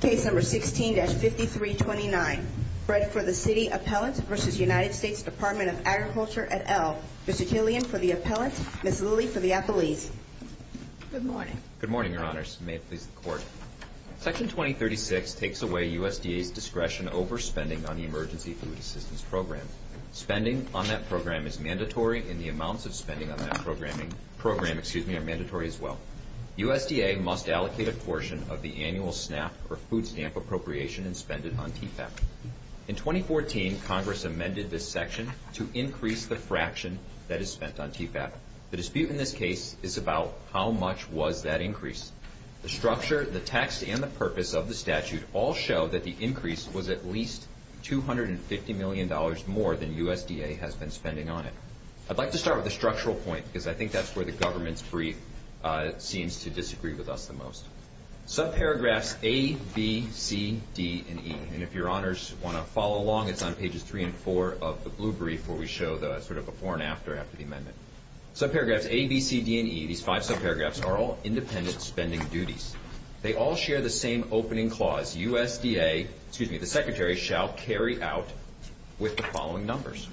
Case number 16-5329. Bread for the City Appellant v. United States Department of Agriculture et al. Mr. Killian for the Appellant, Ms. Lilly for the Appellees. Good morning. Good morning, Your Honors. May it please the Court. Section 2036 takes away USDA's discretion over spending on the Emergency Food Assistance Program. Spending on that program is mandatory, and the amounts of spending on that program are mandatory as well. USDA must allocate a portion of the annual SNAP or food stamp appropriation in spending on TFAP. In 2014, Congress amended this section to increase the fraction that is spent on TFAP. The dispute in this case is about how much was that increase. The structure, the text, and the purpose of the statute all show that the increase was at least $250 million more than USDA has been spending on it. I'd like to start with the structural point, because I think that's where the government's brief seems to disagree with us the most. Subparagraphs A, B, C, D, and E, and if Your Honors want to follow along, it's on pages 3 and 4 of the blue brief where we show the sort of before and after after the amendment. Subparagraphs A, B, C, D, and E, these five subparagraphs, are all independent spending duties. They all share the same opening clause, USDA, excuse me, the Secretary, shall carry out with the following numbers.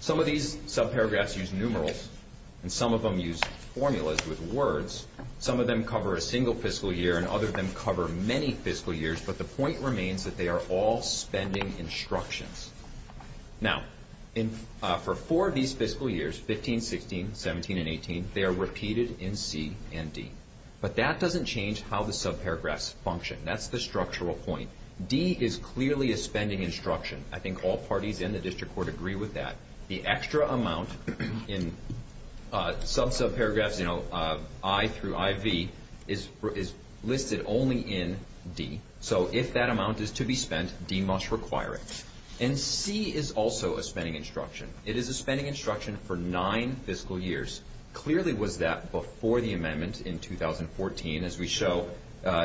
Some of these subparagraphs use numerals, and some of them use formulas with words. Some of them cover a single fiscal year, and other of them cover many fiscal years, but the point remains that they are all spending instructions. Now, for four of these fiscal years, 15, 16, 17, and 18, they are repeated in C and D. But that doesn't change how the subparagraphs function. That's the structural point. D is clearly a spending instruction. I think all parties in the district court agree with that. The extra amount in sub-subparagraphs, you know, I through IV, is listed only in D. So if that amount is to be spent, D must require it. And C is also a spending instruction. It is a spending instruction for nine fiscal years. Clearly was that before the amendment in 2014. As we show,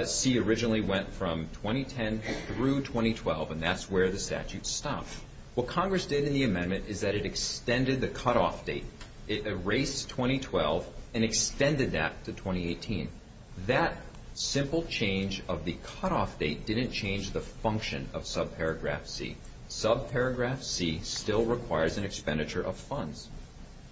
C originally went from 2010 through 2012, and that's where the statute stopped. What Congress did in the amendment is that it extended the cutoff date. It erased 2012 and extended that to 2018. That simple change of the cutoff date didn't change the function of subparagraph C.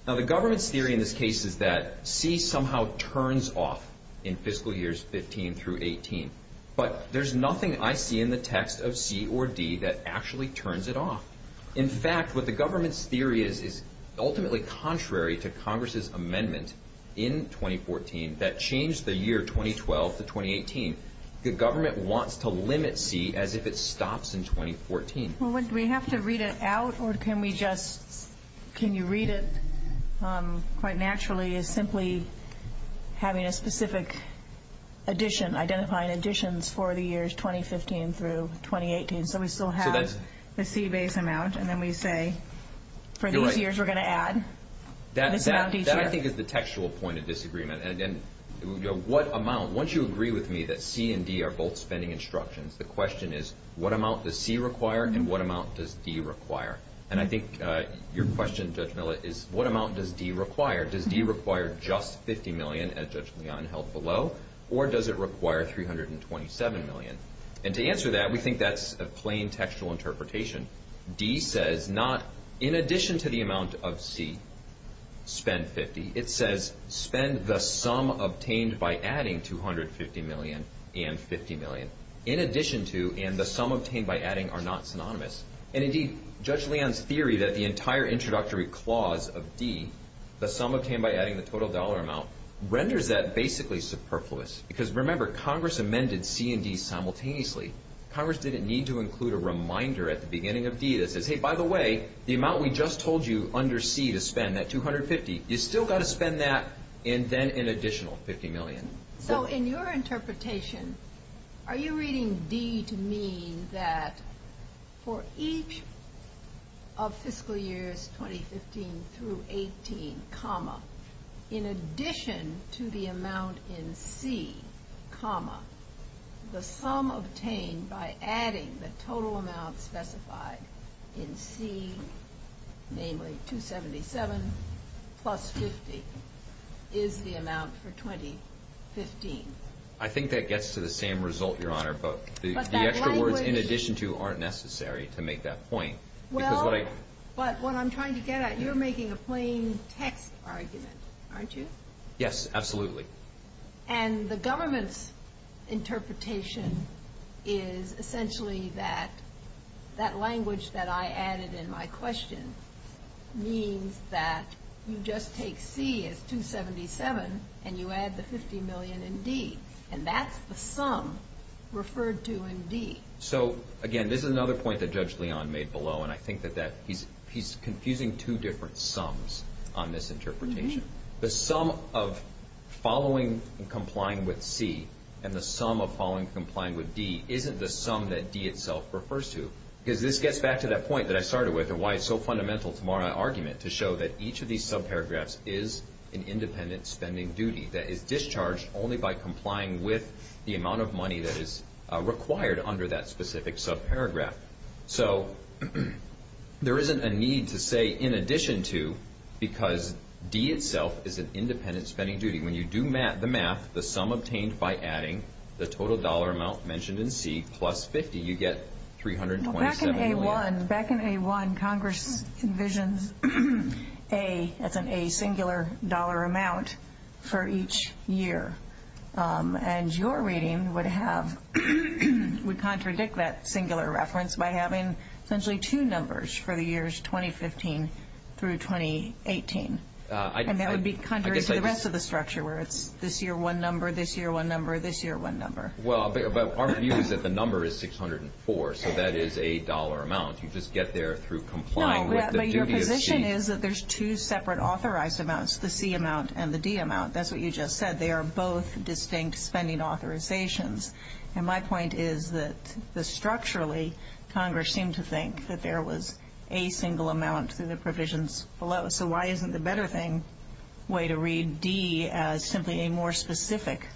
Now, the government's theory in this case is that C somehow turns off in fiscal years 15 through 18. But there's nothing I see in the text of C or D that actually turns it off. In fact, what the government's theory is is ultimately contrary to Congress' amendment in 2014 that changed the year 2012 to 2018. The government wants to limit C as if it stops in 2014. Well, do we have to read it out, or can you read it quite naturally as simply having a specific addition, identifying additions for the years 2015 through 2018, so we still have the C base amount, and then we say for these years we're going to add this amount each year? That, I think, is the textual point of disagreement. Once you agree with me that C and D are both spending instructions, the question is, what amount does C require and what amount does D require? And I think your question, Judge Millett, is what amount does D require? Does D require just $50 million, as Judge Leon held below, or does it require $327 million? And to answer that, we think that's a plain textual interpretation. D says not in addition to the amount of C, spend $50. It says spend the sum obtained by adding $250 million and $50 million. In addition to and the sum obtained by adding are not synonymous. And, indeed, Judge Leon's theory that the entire introductory clause of D, the sum obtained by adding the total dollar amount, renders that basically superfluous. Because, remember, Congress amended C and D simultaneously. Congress didn't need to include a reminder at the beginning of D that says, hey, by the way, the amount we just told you under C to spend, that $250, you've still got to spend that and then an additional $50 million. So, in your interpretation, are you reading D to mean that for each of fiscal years 2015 through 18, in addition to the amount in C, the sum obtained by adding the total amount specified in C, namely $277 plus $50, is the amount for 2015? I think that gets to the same result, Your Honor. But the extra words in addition to aren't necessary to make that point. Well, but what I'm trying to get at, you're making a plain text argument, aren't you? Yes, absolutely. And the government's interpretation is essentially that that language that I added in my question means that you just take C as $277 and you add the $50 million in D. And that's the sum referred to in D. So, again, this is another point that Judge Leon made below, and I think that he's confusing two different sums on this interpretation. The sum of following and complying with C and the sum of following and complying with D isn't the sum that D itself refers to. Because this gets back to that point that I started with and why it's so fundamental to my argument to show that each of these subparagraphs is an independent spending duty that is discharged only by complying with the amount of money that is required under that specific subparagraph. So there isn't a need to say, in addition to, because D itself is an independent spending duty. When you do the math, the sum obtained by adding the total dollar amount mentioned in C plus 50, you get $327 million. Back in A-1, Congress envisions A as an asingular dollar amount for each year. And your reading would contradict that singular reference by having essentially two numbers for the years 2015 through 2018. And that would be contrary to the rest of the structure, where it's this year one number, this year one number, this year one number. Well, but our view is that the number is 604, so that is a dollar amount. You just get there through complying with the duty of C. No, but your position is that there's two separate authorized amounts, the C amount and the D amount. That's what you just said. They are both distinct spending authorizations. And my point is that structurally, Congress seemed to think that there was a single amount through the provisions below. So why isn't the better way to read D as simply a more specific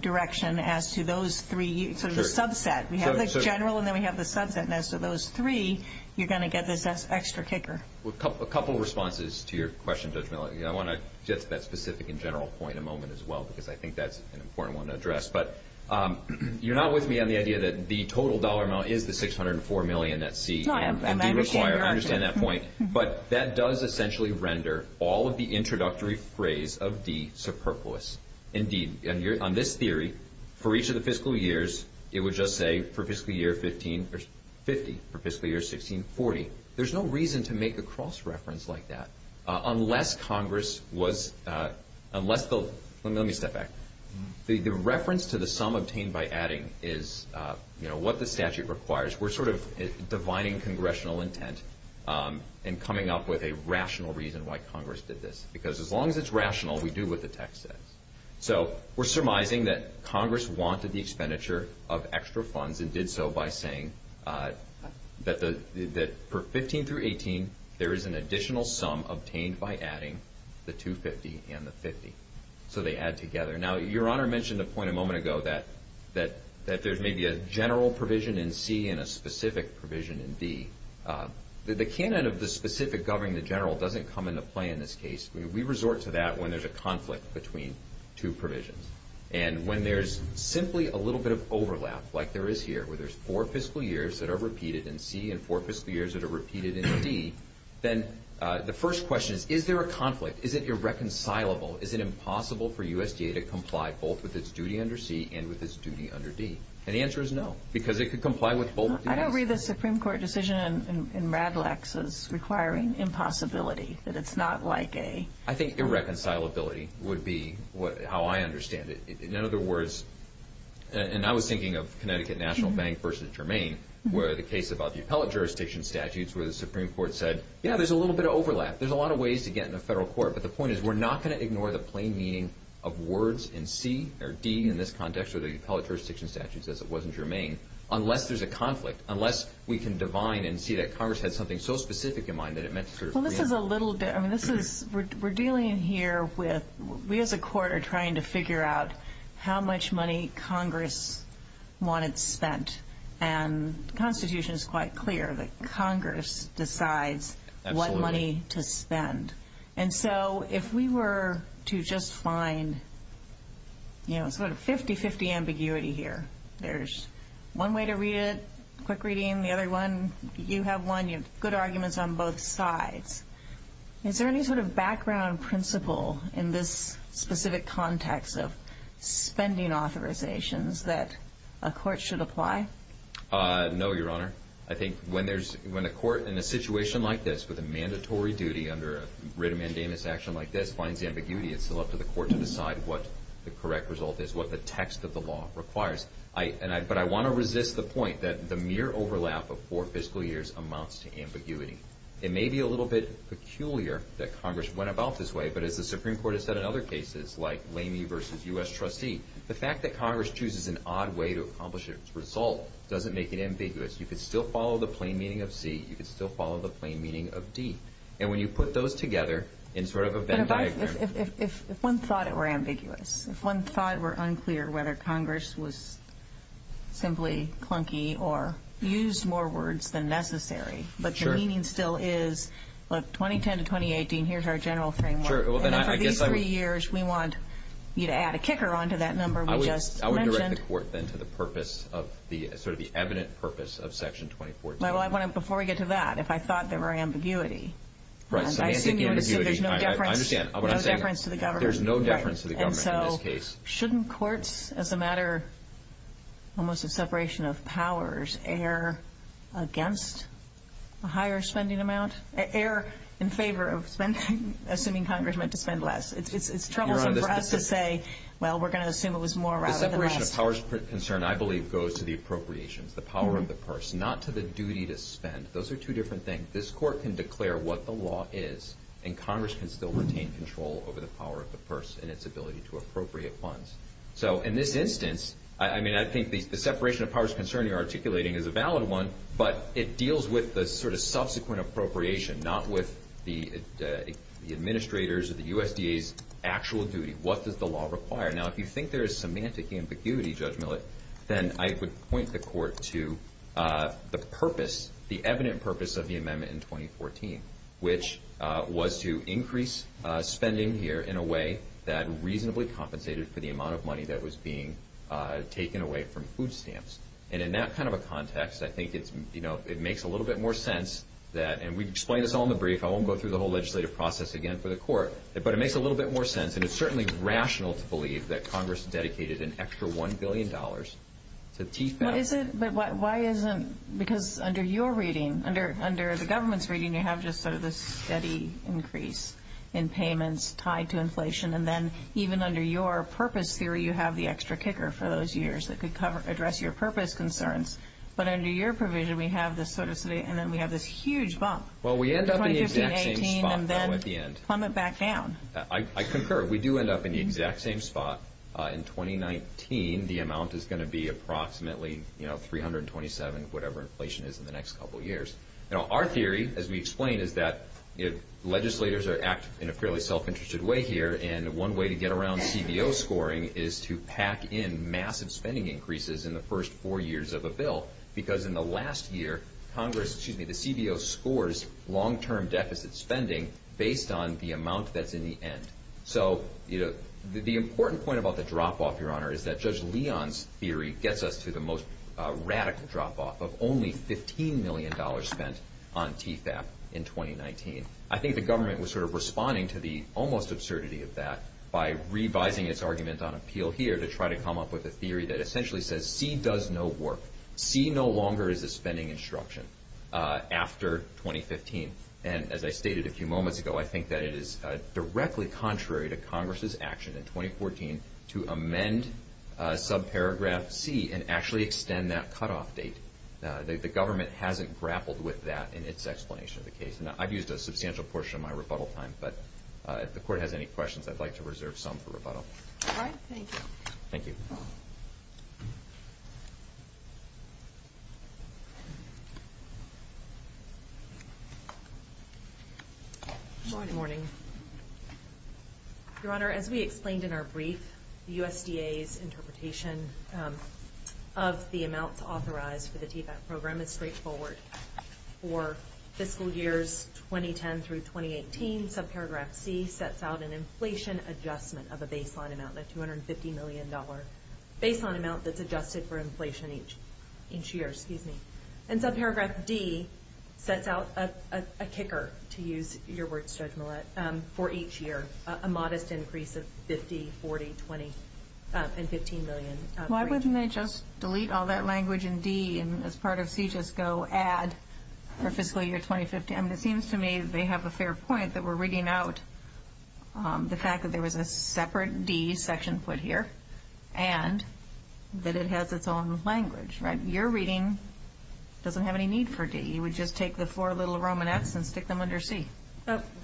direction as to those three, sort of a subset. We have the general and then we have the subset. And as to those three, you're going to get this extra kicker. A couple of responses to your question, Judge Milley. I want to get to that specific and general point in a moment as well, because I think that's an important one to address. But you're not with me on the idea that the total dollar amount is the 604 million that's C. And I understand that point. But that does essentially render all of the introductory phrase of D superfluous. Indeed, on this theory, for each of the fiscal years, it would just say, for fiscal year 15, 50, for fiscal year 16, 40. There's no reason to make a cross-reference like that. Unless Congress was – let me step back. The reference to the sum obtained by adding is what the statute requires. We're sort of divining congressional intent and coming up with a rational reason why Congress did this. Because as long as it's rational, we do what the text says. So we're surmising that Congress wanted the expenditure of extra funds and did so by saying that for 15 through 18, there is an additional sum obtained by adding the 250 and the 50. So they add together. Now, Your Honor mentioned a point a moment ago that there's maybe a general provision in C and a specific provision in D. The canon of the specific governing the general doesn't come into play in this case. We resort to that when there's a conflict between two provisions. And when there's simply a little bit of overlap, like there is here, where there's four fiscal years that are repeated in C and four fiscal years that are repeated in D, then the first question is, is there a conflict? Is it irreconcilable? Is it impossible for USDA to comply both with its duty under C and with its duty under D? And the answer is no, because it could comply with both of these. I don't read the Supreme Court decision in RADLEX as requiring impossibility, that it's not like a— I think irreconcilability would be how I understand it. In other words, and I was thinking of Connecticut National Bank versus Jermaine, where the case about the appellate jurisdiction statutes where the Supreme Court said, yeah, there's a little bit of overlap. There's a lot of ways to get in a federal court, but the point is we're not going to ignore the plain meaning of words in C or D in this context or the appellate jurisdiction statutes as it was in Jermaine unless there's a conflict, unless we can divine and see that Congress had something so specific in mind that it meant to sort of— Well, this is a little—I mean, this is—we're dealing here with— we as a court are trying to figure out how much money Congress wanted spent and the Constitution is quite clear that Congress decides what money to spend. Absolutely. And so if we were to just find, you know, sort of 50-50 ambiguity here, there's one way to read it, quick reading, the other one, you have one, you have good arguments on both sides. Is there any sort of background principle in this specific context of spending authorizations that a court should apply? No, Your Honor. I think when there's—when a court in a situation like this with a mandatory duty under a writ of mandamus action like this finds ambiguity, it's still up to the court to decide what the correct result is, what the text of the law requires. But I want to resist the point that the mere overlap of four fiscal years amounts to ambiguity. It may be a little bit peculiar that Congress went about this way, but as the Supreme Court has said in other cases like Lamey v. U.S. Trustee, the fact that Congress chooses an odd way to accomplish its result doesn't make it ambiguous. You could still follow the plain meaning of C. You could still follow the plain meaning of D. And when you put those together in sort of a Venn diagram— But if one thought it were ambiguous, if one thought it were unclear whether Congress was simply clunky or used more words than necessary, but the meaning still is, look, 2010 to 2018, here's our general framework. And for these three years, we want you to add a kicker onto that number we just mentioned. I would direct the court then to the purpose of the sort of the evident purpose of Section 2014. Before we get to that, if I thought there were ambiguity— Right, semantic ambiguity. I understand what I'm saying. There's no deference to the government. There's no deference to the government in this case. And so shouldn't courts, as a matter almost of separation of powers, against a higher spending amount, err in favor of spending, assuming Congress meant to spend less? It's troublesome for us to say, well, we're going to assume it was more rather than less. The separation of powers concern, I believe, goes to the appropriations, the power of the purse, not to the duty to spend. Those are two different things. This Court can declare what the law is, and Congress can still retain control over the power of the purse and its ability to appropriate funds. So in this instance, I mean, I think the separation of powers concern you're articulating is a valid one, but it deals with the sort of subsequent appropriation, not with the administrator's or the USDA's actual duty. What does the law require? Now, if you think there is semantic ambiguity, Judge Millett, then I would point the court to the purpose, the evident purpose of the amendment in 2014, which was to increase spending here in a way that reasonably compensated for the amount of money that was being taken away from food stamps. And in that kind of a context, I think it's, you know, it makes a little bit more sense that, and we've explained this all in the brief. I won't go through the whole legislative process again for the Court, but it makes a little bit more sense, and it's certainly rational to believe that Congress dedicated an extra $1 billion to TIFA. But why isn't, because under your reading, under the government's reading, you have just sort of this steady increase in payments tied to inflation, and then even under your purpose theory, you have the extra kicker for those years that could address your purpose concerns. But under your provision, we have this sort of steady, and then we have this huge bump. Well, we end up in the exact same spot, though, at the end. Plummet back down. I concur. We do end up in the exact same spot. In 2019, the amount is going to be approximately, you know, $327, whatever inflation is in the next couple of years. Our theory, as we explained, is that legislators act in a fairly self-interested way here, and one way to get around CBO scoring is to pack in massive spending increases in the first four years of a bill, because in the last year, Congress, excuse me, the CBO scores long-term deficit spending based on the amount that's in the end. So, you know, the important point about the drop-off, Your Honor, is that Judge Leon's theory gets us to the most radical drop-off of only $15 million spent on TFAP in 2019. I think the government was sort of responding to the almost absurdity of that by revising its argument on appeal here to try to come up with a theory that essentially says C does no work. C no longer is a spending instruction after 2015. And as I stated a few moments ago, I think that it is directly contrary to Congress's action in 2014 to amend subparagraph C and actually extend that cutoff date. The government hasn't grappled with that in its explanation of the case. Now, I've used a substantial portion of my rebuttal time, but if the Court has any questions, I'd like to reserve some for rebuttal. All right. Thank you. Thank you. Good morning. Your Honor, as we explained in our brief, the USDA's interpretation of the amounts authorized for the TFAP program is straightforward. For fiscal years 2010 through 2018, subparagraph C sets out an inflation adjustment of a baseline amount, a $250 million baseline amount that's adjusted for inflation each year. And subparagraph D sets out a kicker, to use your words, Judge Millett, for each year, a modest increase of $50, $40, $20, and $15 million. Why wouldn't they just delete all that language in D and as part of C just go add for fiscal year 2015? It seems to me they have a fair point that we're rigging out the fact that there was a separate D section put here and that it has its own language. Your reading doesn't have any need for D. You would just take the four little Romanets and stick them under C.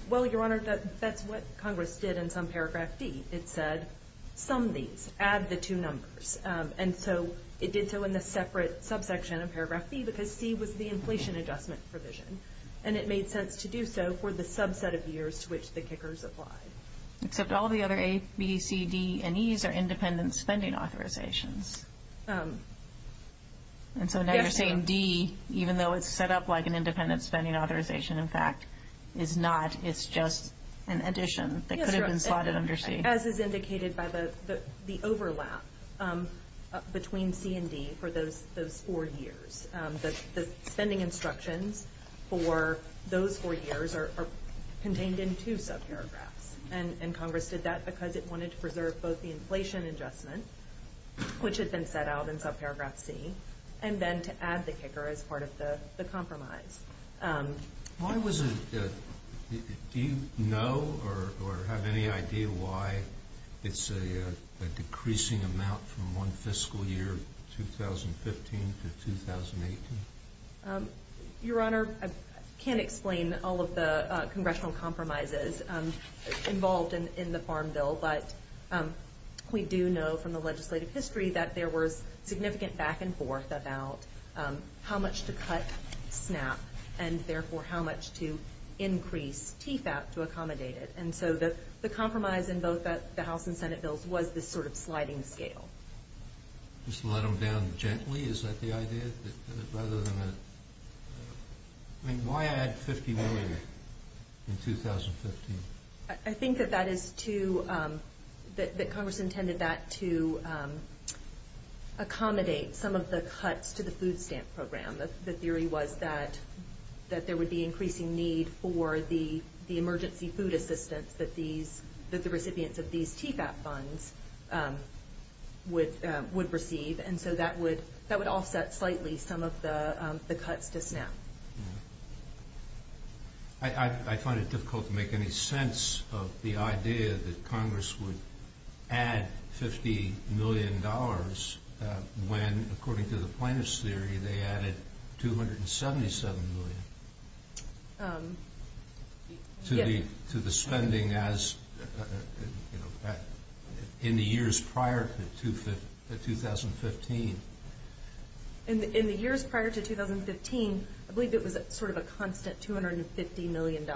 Well, Your Honor, that's what Congress did in subparagraph D. It said sum these, add the two numbers. And so it did so in the separate subsection of paragraph B because C was the inflation adjustment provision. And it made sense to do so for the subset of years to which the kickers applied. Except all the other A, B, C, D, and E's are independent spending authorizations. And so now you're saying D, even though it's set up like an independent spending authorization, in fact, is not. It's just an addition that could have been slotted under C. As is indicated by the overlap between C and D for those four years, the spending instructions for those four years are contained in two subparagraphs. And Congress did that because it wanted to preserve both the inflation adjustment, which had been set out in subparagraph C, and then to add the kicker as part of the compromise. Do you know or have any idea why it's a decreasing amount from one fiscal year, 2015 to 2018? Your Honor, I can't explain all of the congressional compromises involved in the Farm Bill, but we do know from the legislative history that there was significant back and forth about how much to cut SNAP and, therefore, how much to increase TFAP to accommodate it. And so the compromise in both the House and Senate bills was this sort of sliding scale. Just let them down gently? Is that the idea? I mean, why add $50 million in 2015? I think that Congress intended that to accommodate some of the cuts to the food stamp program. The theory was that there would be increasing need for the emergency food assistance that the recipients of these TFAP funds would receive, and so that would offset slightly some of the cuts to SNAP. I find it difficult to make any sense of the idea that Congress would add $50 million when, according to the plaintiff's theory, they added $277 million to the spending in the years prior to 2015. In the years prior to 2015, I believe it was sort of a constant $250 million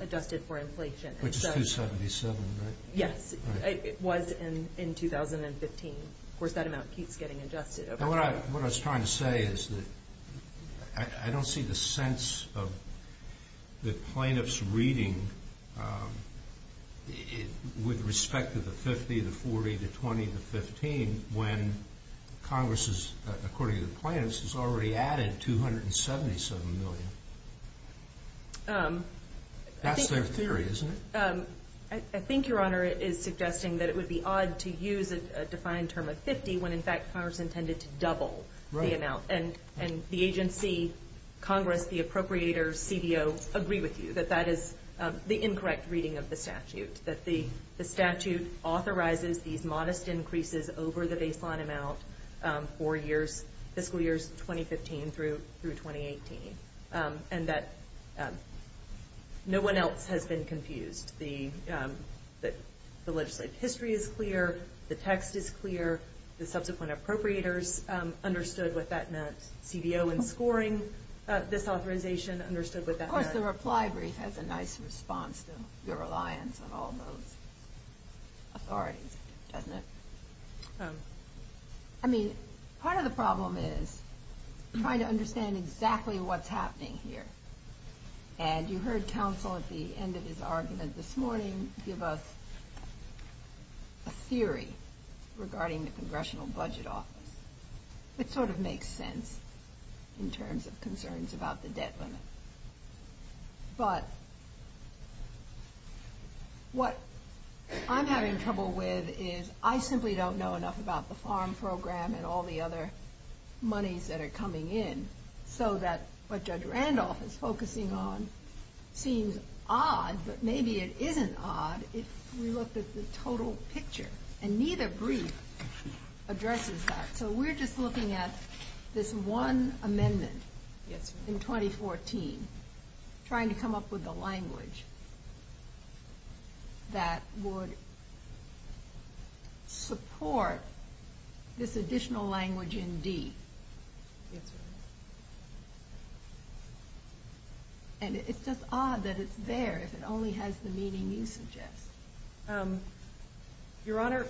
adjusted for inflation. Which is $277 million, right? Yes, it was in 2015. Of course, that amount keeps getting adjusted. What I was trying to say is that I don't see the sense of the plaintiff's reading with respect to the 50, the 40, the 20, the 15, when Congress, according to the plaintiff's, has already added $277 million. That's their theory, isn't it? I think, Your Honor, it is suggesting that it would be odd to use a defined term of 50 when, in fact, Congress intended to double the amount. And the agency, Congress, the appropriators, CBO, agree with you that that is the incorrect reading of the statute. That the statute authorizes these modest increases over the baseline amount for fiscal years 2015 through 2018. And that no one else has been confused. The legislative history is clear. The text is clear. The subsequent appropriators understood what that meant. CBO in scoring this authorization understood what that meant. Of course, the reply brief has a nice response to your reliance on all those authorities, doesn't it? I mean, part of the problem is trying to understand exactly what's happening here. And you heard counsel at the end of his argument this morning give us a theory regarding the Congressional Budget Office. It sort of makes sense in terms of concerns about the debt limit. But what I'm having trouble with is I simply don't know enough about the farm program and all the other monies that are coming in so that what Judge Randolph is focusing on seems odd, but maybe it isn't odd if we looked at the total picture. And neither brief addresses that. So we're just looking at this one amendment in 2014, trying to come up with a language that would support this additional language in D. Yes, Your Honor. And it's just odd that it's there if it only has the meaning you suggest. Your Honor,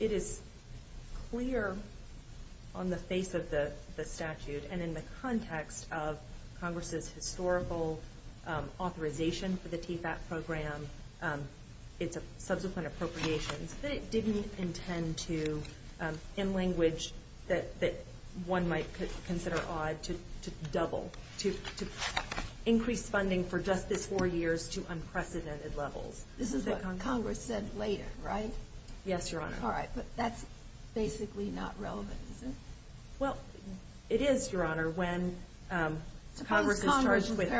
it is clear on the face of the statute and in the context of Congress's historical authorization for the TFAT program, and its subsequent appropriations, that it didn't intend to, in language that one might consider odd, to double, to increase funding for just this four years to unprecedented levels. This is what Congress said later, right? Yes, Your Honor. All right, but that's basically not relevant, is it? Well, it is, Your Honor, when Congress is charged with...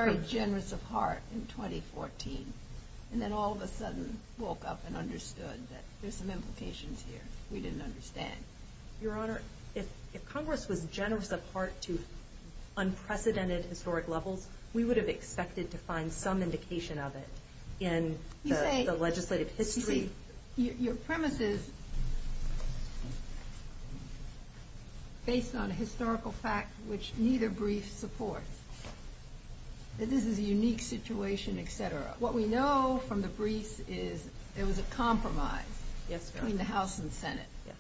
And then all of a sudden woke up and understood that there's some implications here we didn't understand. Your Honor, if Congress was generous of heart to unprecedented historic levels, we would have expected to find some indication of it in the legislative history. Your premise is, based on a historical fact which neither brief supports, that this is a unique situation, et cetera. What we know from the briefs is there was a compromise between the House and Senate. Yes,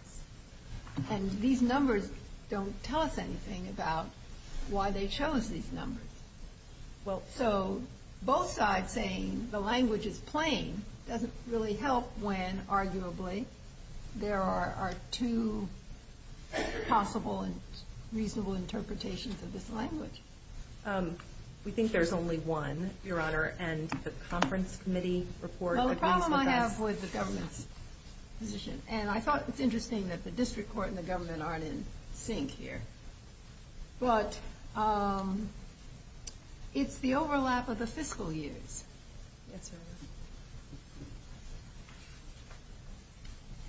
Your Honor. And these numbers don't tell us anything about why they chose these numbers. So both sides saying the language is plain doesn't really help when, arguably, there are two possible and reasonable interpretations of this language. We think there's only one, Your Honor, and the conference committee report... Well, the problem I have with the government's position, and I thought it was interesting that the district court and the government aren't in sync here, but it's the overlap of the fiscal years. Yes,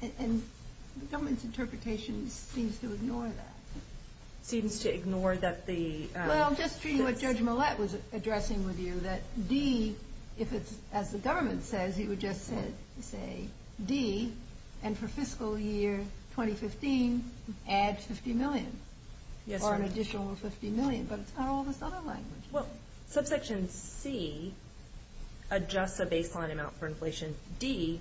Your Honor. And the government's interpretation seems to ignore that. Seems to ignore that the... Well, just treating what Judge Millett was addressing with you, that D, if it's, as the government says, it would just say, D, and for fiscal year 2015, add $50 million. Yes, Your Honor. Or an additional $50 million. But it's not all this other language. Well, subsection C adjusts a baseline amount for inflation. D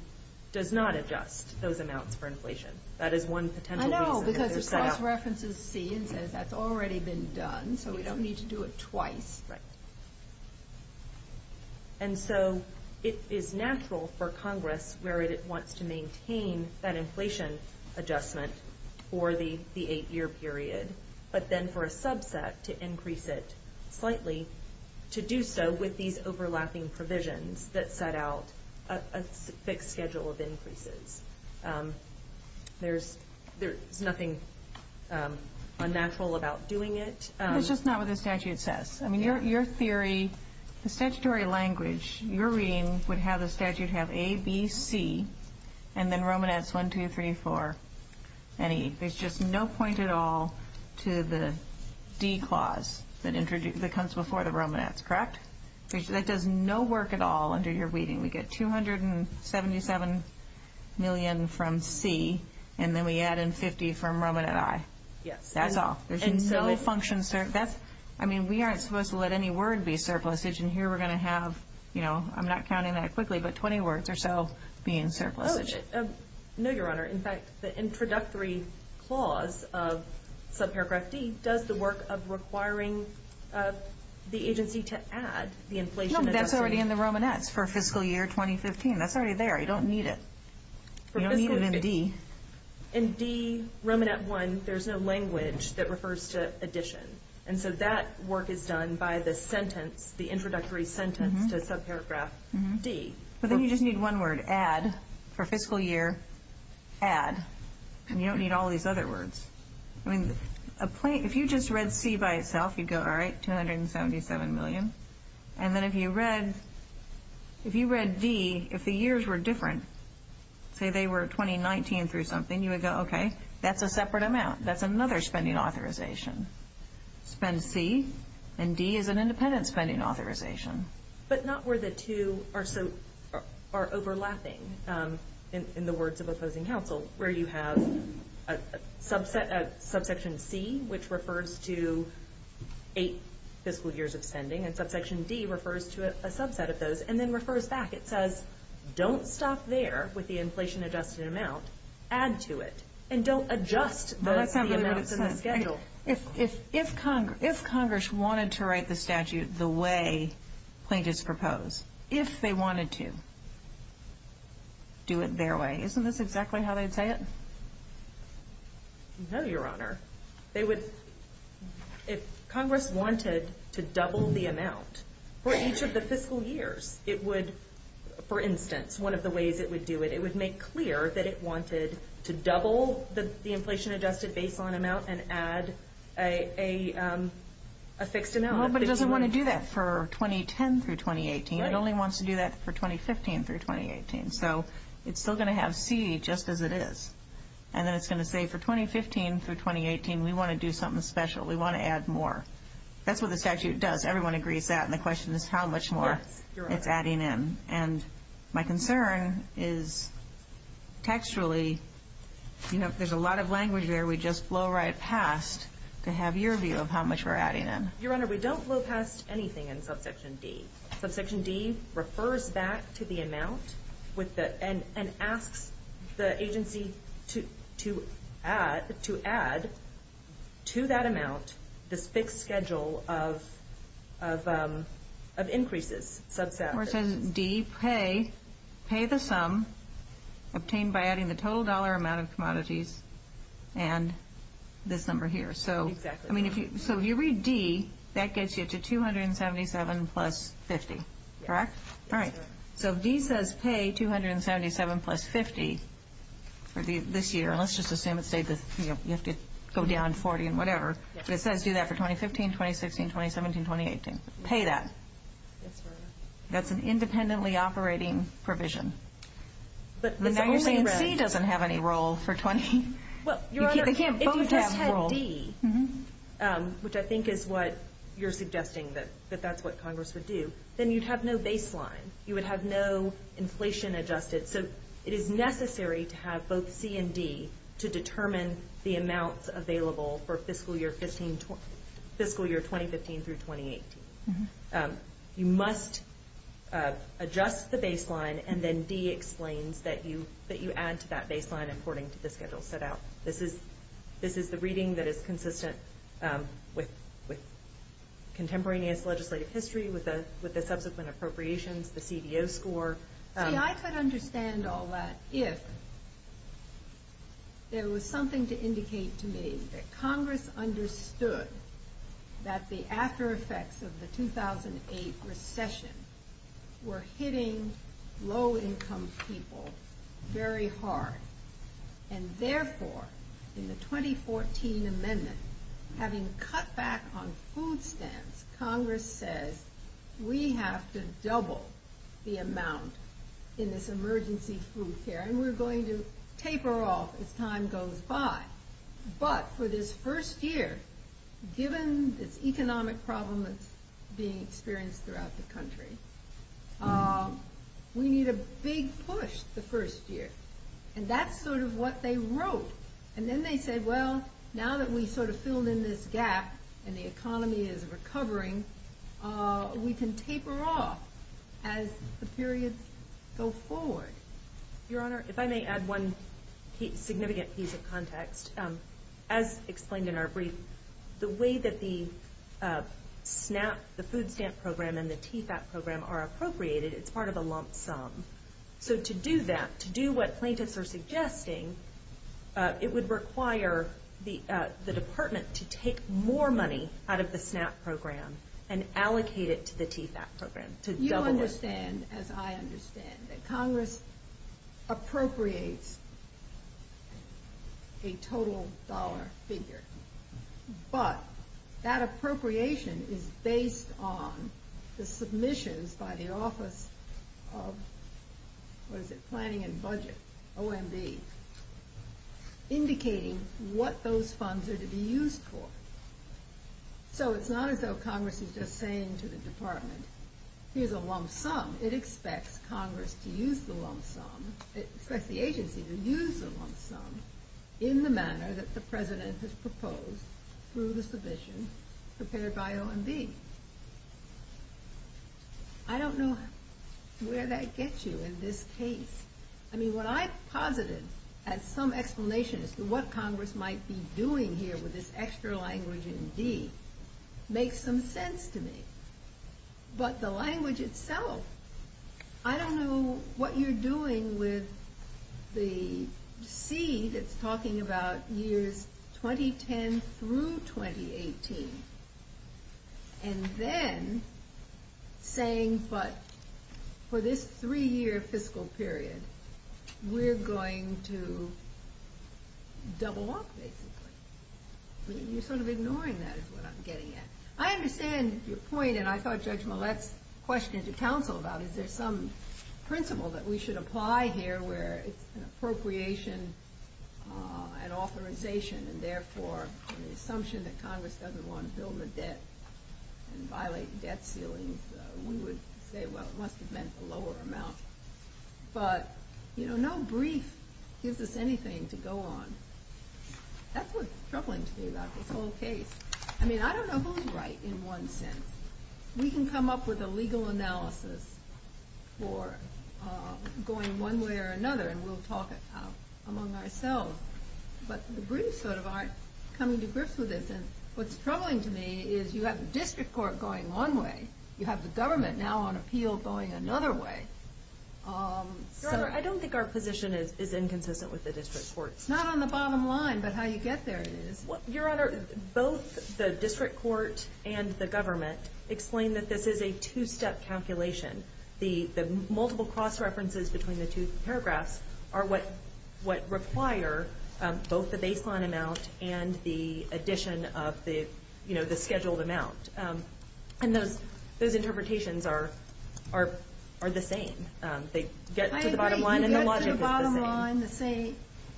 does not adjust those amounts for inflation. That is one potential reason. Because the cross-reference is C and says that's already been done, so we don't need to do it twice. Right. And so it is natural for Congress, where it wants to maintain that inflation adjustment for the eight-year period, but then for a subset to increase it slightly, to do so with these overlapping provisions that set out a fixed schedule of increases. There's nothing unnatural about doing it. It's just not what the statute says. I mean, your theory, the statutory language you're reading would have the statute have A, B, C, and then Romanets 1, 2, 3, 4, and E. There's just no point at all to the D clause that comes before the Romanets, correct? That does no work at all under your reading. We get $277 million from C, and then we add in 50 from Romanet I. Yes. That's all. There's no function surplus. I mean, we aren't supposed to let any word be surplusage, and here we're going to have, you know, I'm not counting that quickly, but 20 words or so being surplusage. No, Your Honor. In fact, the introductory clause of subparagraph D does the work of requiring the agency to add the inflation adjustment. But that's already in the Romanets for fiscal year 2015. That's already there. You don't need it. You don't need it in D. In D, Romanet I, there's no language that refers to addition, and so that work is done by the sentence, the introductory sentence to subparagraph D. But then you just need one word, add, for fiscal year, add, and you don't need all these other words. I mean, if you just read C by itself, you'd go, all right, $277 million. And then if you read D, if the years were different, say they were 2019 through something, you would go, okay, that's a separate amount. That's another spending authorization. Spend C, and D is an independent spending authorization. But not where the two are overlapping in the words of opposing counsel, where you have a subsection C, which refers to eight fiscal years of spending, and subsection D refers to a subset of those, and then refers back. It says don't stop there with the inflation adjusted amount. Add to it. And don't adjust those C amounts in the schedule. If Congress wanted to write the statute the way plaintiffs propose, if they wanted to, do it their way, isn't this exactly how they'd say it? No, Your Honor. If Congress wanted to double the amount for each of the fiscal years, it would, for instance, one of the ways it would do it, it would make clear that it wanted to double the inflation adjusted baseline amount and add a fixed amount. Well, but it doesn't want to do that for 2010 through 2018. It only wants to do that for 2015 through 2018. So it's still going to have C just as it is. And then it's going to say for 2015 through 2018, we want to do something special. We want to add more. That's what the statute does. Everyone agrees that. And the question is how much more it's adding in. And my concern is textually, you know, if there's a lot of language there, we just blow right past to have your view of how much we're adding in. Your Honor, we don't blow past anything in subsection D. Subsection D refers back to the amount and asks the agency to add to that amount this fixed schedule of increases. Or it says D, pay the sum obtained by adding the total dollar amount of commodities and this number here. Exactly. So if you read D, that gets you to $277 plus $50, correct? Yes. All right. So if D says pay $277 plus $50 for this year, and let's just assume you have to go down $40 and whatever. But it says do that for 2015, 2016, 2017, 2018. Pay that. Yes, Your Honor. That's an independently operating provision. But now you're saying C doesn't have any role for 20. Well, Your Honor, if you just had D, which I think is what you're suggesting that that's what Congress would do, then you'd have no baseline. You would have no inflation adjusted. So it is necessary to have both C and D to determine the amounts available for fiscal year 2015 through 2018. You must adjust the baseline and then D explains that you add to that baseline according to the schedule set out. This is the reading that is consistent with contemporaneous legislative history with the subsequent appropriations, the CDO score. See, I could understand all that if there was something to indicate to me that Congress understood that the aftereffects of the 2008 recession were hitting low-income people very hard. And therefore, in the 2014 amendment, having cut back on food stamps, Congress says we have to double the amount in this emergency food care. And we're going to taper off as time goes by. But for this first year, given this economic problem that's being experienced throughout the country, we need a big push the first year. And that's sort of what they wrote. And then they said, well, now that we've sort of filled in this gap and the economy is recovering, we can taper off as the periods go forward. Your Honor, if I may add one significant piece of context. As explained in our brief, the way that the SNAP, the food stamp program, and the TFAP program are appropriated, it's part of a lump sum. So to do that, to do what plaintiffs are suggesting, it would require the department to take more money out of the SNAP program and allocate it to the TFAP program. You understand, as I understand, that Congress appropriates a total dollar figure. But that appropriation is based on the submissions by the Office of Planning and Budget, OMB, indicating what those funds are to be used for. So it's not as though Congress is just saying to the department, here's a lump sum. It expects Congress to use the lump sum. It expects the agency to use the lump sum in the manner that the president has proposed through the submission prepared by OMB. I don't know where that gets you in this case. I mean, what I've posited as some explanation as to what Congress might be doing here with this extra language in D makes some sense to me. But the language itself, I don't know what you're doing with the C that's talking about years 2010 through 2018. And then saying, but for this three-year fiscal period, we're going to double up, basically. You're sort of ignoring that is what I'm getting at. I understand your point, and I thought Judge Millett's question to counsel about is there some principle that we should apply here where it's an appropriation and authorization. And therefore, the assumption that Congress doesn't want to bill the debt and violate debt ceilings, we would say, well, it must have meant a lower amount. But, you know, no brief gives us anything to go on. That's what's troubling to me about this whole case. I mean, I don't know who's right in one sense. We can come up with a legal analysis for going one way or another, and we'll talk it out among ourselves. But the briefs sort of aren't coming to grips with this. And what's troubling to me is you have the district court going one way. You have the government now on appeal going another way. Your Honor, I don't think our position is inconsistent with the district court. It's not on the bottom line, but how you get there is. Your Honor, both the district court and the government explain that this is a two-step calculation. The multiple cross-references between the two paragraphs are what require both the baseline amount and the addition of the scheduled amount. And those interpretations are the same. They get to the bottom line, and the logic is the same.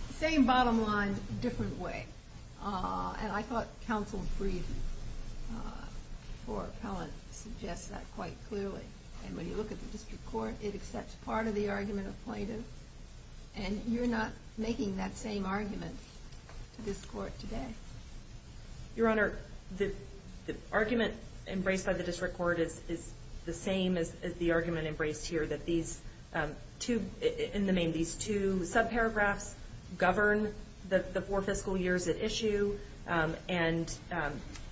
The same bottom line, different way. And I thought counsel's brief before appellant suggests that quite clearly. And when you look at the district court, it accepts part of the argument of plaintiff. And you're not making that same argument to this court today. Your Honor, the argument embraced by the district court is the same as the argument embraced here, that these two sub-paragraphs govern the four fiscal years at issue, and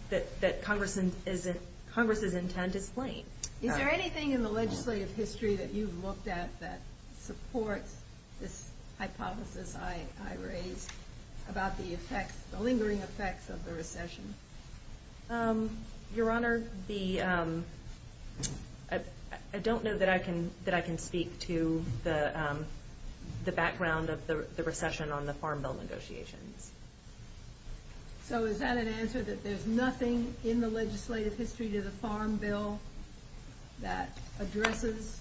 that Congress's intent is plain. Is there anything in the legislative history that you've looked at that supports this hypothesis I raised about the lingering effects of the recession? Your Honor, I don't know that I can speak to the background of the recession on the farm bill negotiations. So is that an answer, that there's nothing in the legislative history to the farm bill that addresses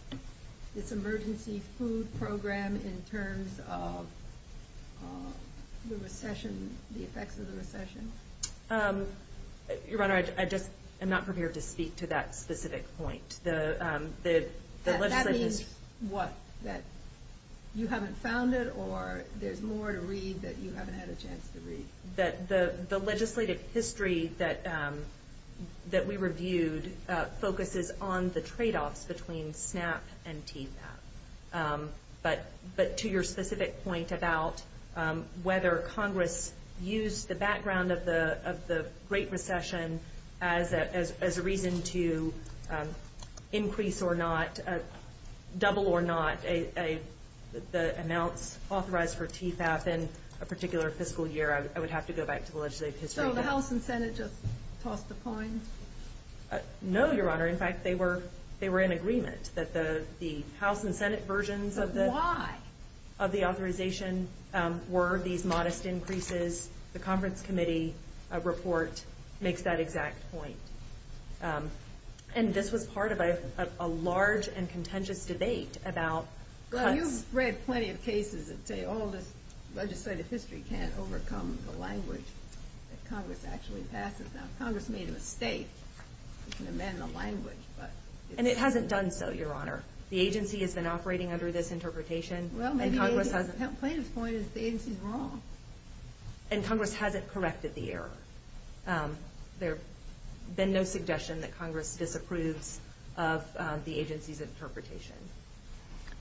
its emergency food program in terms of the effects of the recession? Your Honor, I just am not prepared to speak to that specific point. That means what? That you haven't found it, or there's more to read that you haven't had a chance to read? The legislative history that we reviewed focuses on the tradeoffs between SNAP and TPAP. But to your specific point about whether Congress used the background of the Great Recession as a reason to increase or not, double or not, the amounts authorized for TPAP in a particular fiscal year, I would have to go back to the legislative history. So the House and Senate just tossed a coin? No, Your Honor. In fact, they were in agreement that the House and Senate versions of the authorization were these modest increases. The conference committee report makes that exact point. And this was part of a large and contentious debate about cuts. Well, you've read plenty of cases that say all this legislative history can't overcome the language that Congress actually passes. Now, Congress made a mistake. You can amend the language, but... And it hasn't done so, Your Honor. The agency has been operating under this interpretation. Well, maybe the plaintiff's point is the agency's wrong. And Congress hasn't corrected the error. There's been no suggestion that Congress disapproves of the agency's interpretation.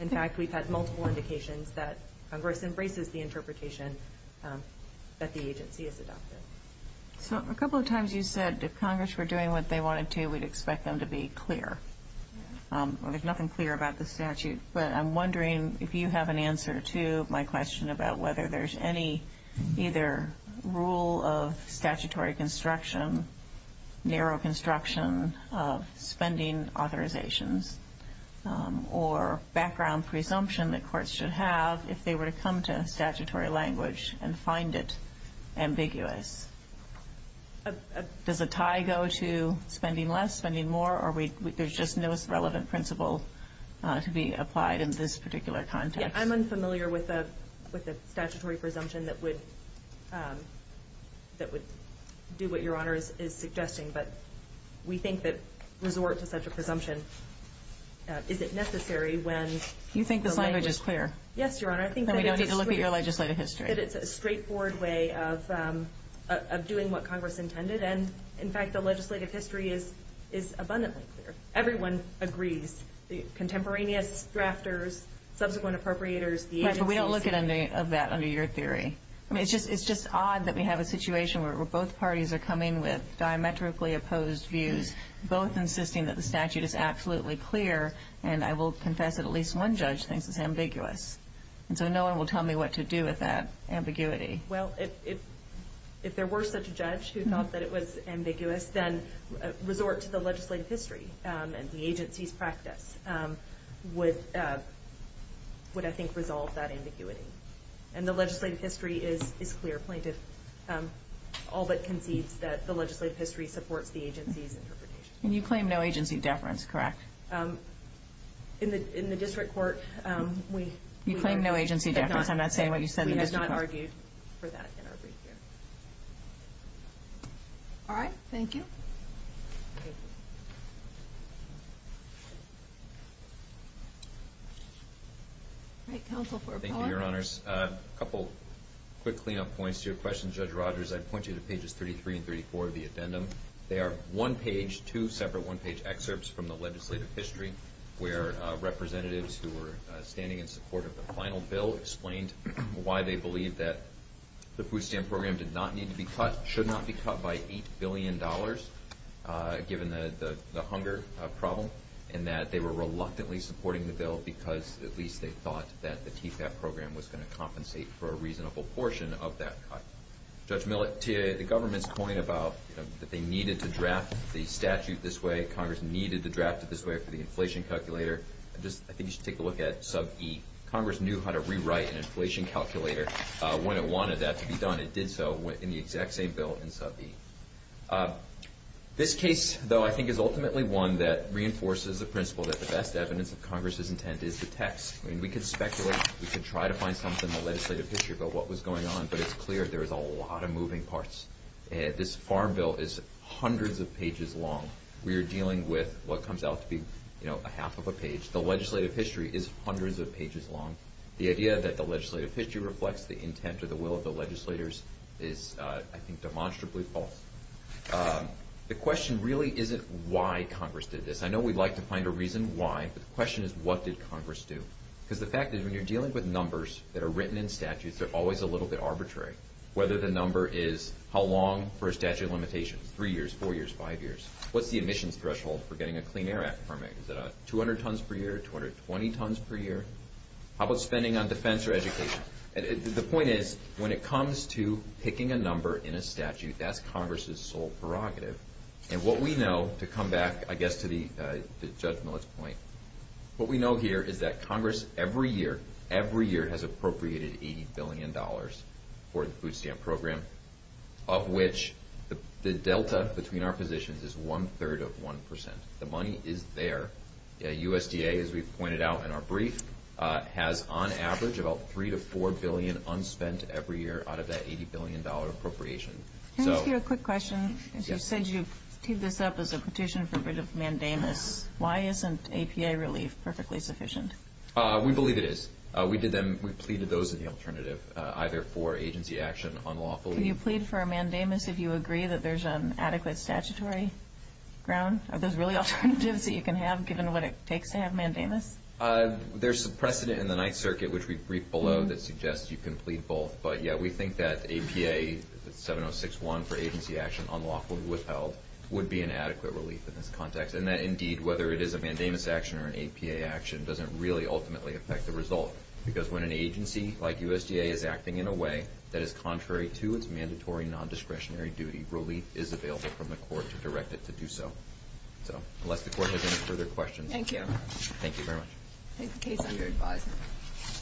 In fact, we've had multiple indications that Congress embraces the interpretation that the agency has adopted. So a couple of times you said if Congress were doing what they wanted to, we'd expect them to be clear. There's nothing clear about the statute. But I'm wondering if you have an answer to my question about whether there's any either rule of statutory construction, narrow construction of spending authorizations, or background presumption that courts should have if they were to come to statutory language and find it ambiguous. Does a tie go to spending less, spending more, or there's just no relevant principle to be applied in this particular context? I'm unfamiliar with a statutory presumption that would do what Your Honor is suggesting. But we think that resort to such a presumption isn't necessary when... You think this language is clear? Yes, Your Honor. Then we don't need to look at your legislative history. I think that it's a straightforward way of doing what Congress intended. And, in fact, the legislative history is abundantly clear. Everyone agrees, the contemporaneous drafters, subsequent appropriators, the agencies. But we don't look at any of that under your theory. I mean, it's just odd that we have a situation where both parties are coming with diametrically opposed views, both insisting that the statute is absolutely clear, and I will confess that at least one judge thinks it's ambiguous. And so no one will tell me what to do with that ambiguity. Well, if there were such a judge who thought that it was ambiguous, then resort to the legislative history and the agency's practice would, I think, resolve that ambiguity. And the legislative history is clear. Plaintiff all but concedes that the legislative history supports the agency's interpretation. And you claim no agency deference, correct? In the district court, we- You claim no agency deference. I'm not saying what you said in the district court. We have not argued for that in our brief here. All right. Thank you. All right. Counsel for Appella. Thank you, Your Honors. A couple quick clean-up points to your question, Judge Rogers. I'd point you to pages 33 and 34 of the addendum. They are one-page, two separate one-page excerpts from the legislative history where representatives who were standing in support of the final bill explained why they believe that the food stamp program did not need to be cut, should not be cut by $8 billion, given the hunger problem, and that they were reluctantly supporting the bill because at least they thought that the TFAP program was going to compensate for a reasonable portion of that cut. Judge Millett, to the government's point about that they needed to draft the statute this way, Congress needed to draft it this way for the inflation calculator, I think you should take a look at sub E. Congress knew how to rewrite an inflation calculator when it wanted that to be done. It did so in the exact same bill in sub E. This case, though, I think is ultimately one that reinforces the principle that the best evidence of Congress's intent is the text. I mean, we could speculate. We could try to find something in the legislative history about what was going on, but it's clear there's a lot of moving parts. This farm bill is hundreds of pages long. We are dealing with what comes out to be a half of a page. The legislative history is hundreds of pages long. The idea that the legislative history reflects the intent or the will of the legislators is, I think, demonstrably false. The question really isn't why Congress did this. I know we'd like to find a reason why, but the question is what did Congress do? Because the fact is when you're dealing with numbers that are written in statutes, they're always a little bit arbitrary. Whether the number is how long for a statute of limitations, three years, four years, five years. What's the admissions threshold for getting a Clean Air Act permit? Is it 200 tons per year, 220 tons per year? How about spending on defense or education? The point is when it comes to picking a number in a statute, that's Congress's sole prerogative. And what we know, to come back, I guess, to Judge Millett's point, what we know here is that Congress every year, every year, has appropriated $80 billion for the food stamp program, of which the delta between our positions is one-third of 1%. The money is there. USDA, as we've pointed out in our brief, has on average about $3 to $4 billion unspent every year out of that $80 billion appropriation. Can I ask you a quick question? You said you teed this up as a petition for rid of mandamus. Why isn't APA relief perfectly sufficient? We believe it is. We pleaded those as the alternative, either for agency action unlawfully. Can you plead for a mandamus if you agree that there's an adequate statutory ground? Are those really alternatives that you can have, given what it takes to have mandamus? There's some precedent in the Ninth Circuit, which we've briefed below, that suggests you can plead both. But, yeah, we think that APA 7061 for agency action unlawfully withheld would be an adequate relief in this context. And that, indeed, whether it is a mandamus action or an APA action doesn't really ultimately affect the result. Because when an agency like USDA is acting in a way that is contrary to its mandatory nondiscretionary duty, relief is available from the court to direct it to do so. Unless the court has any further questions. Thank you. Thank you very much. I take the case under advisement.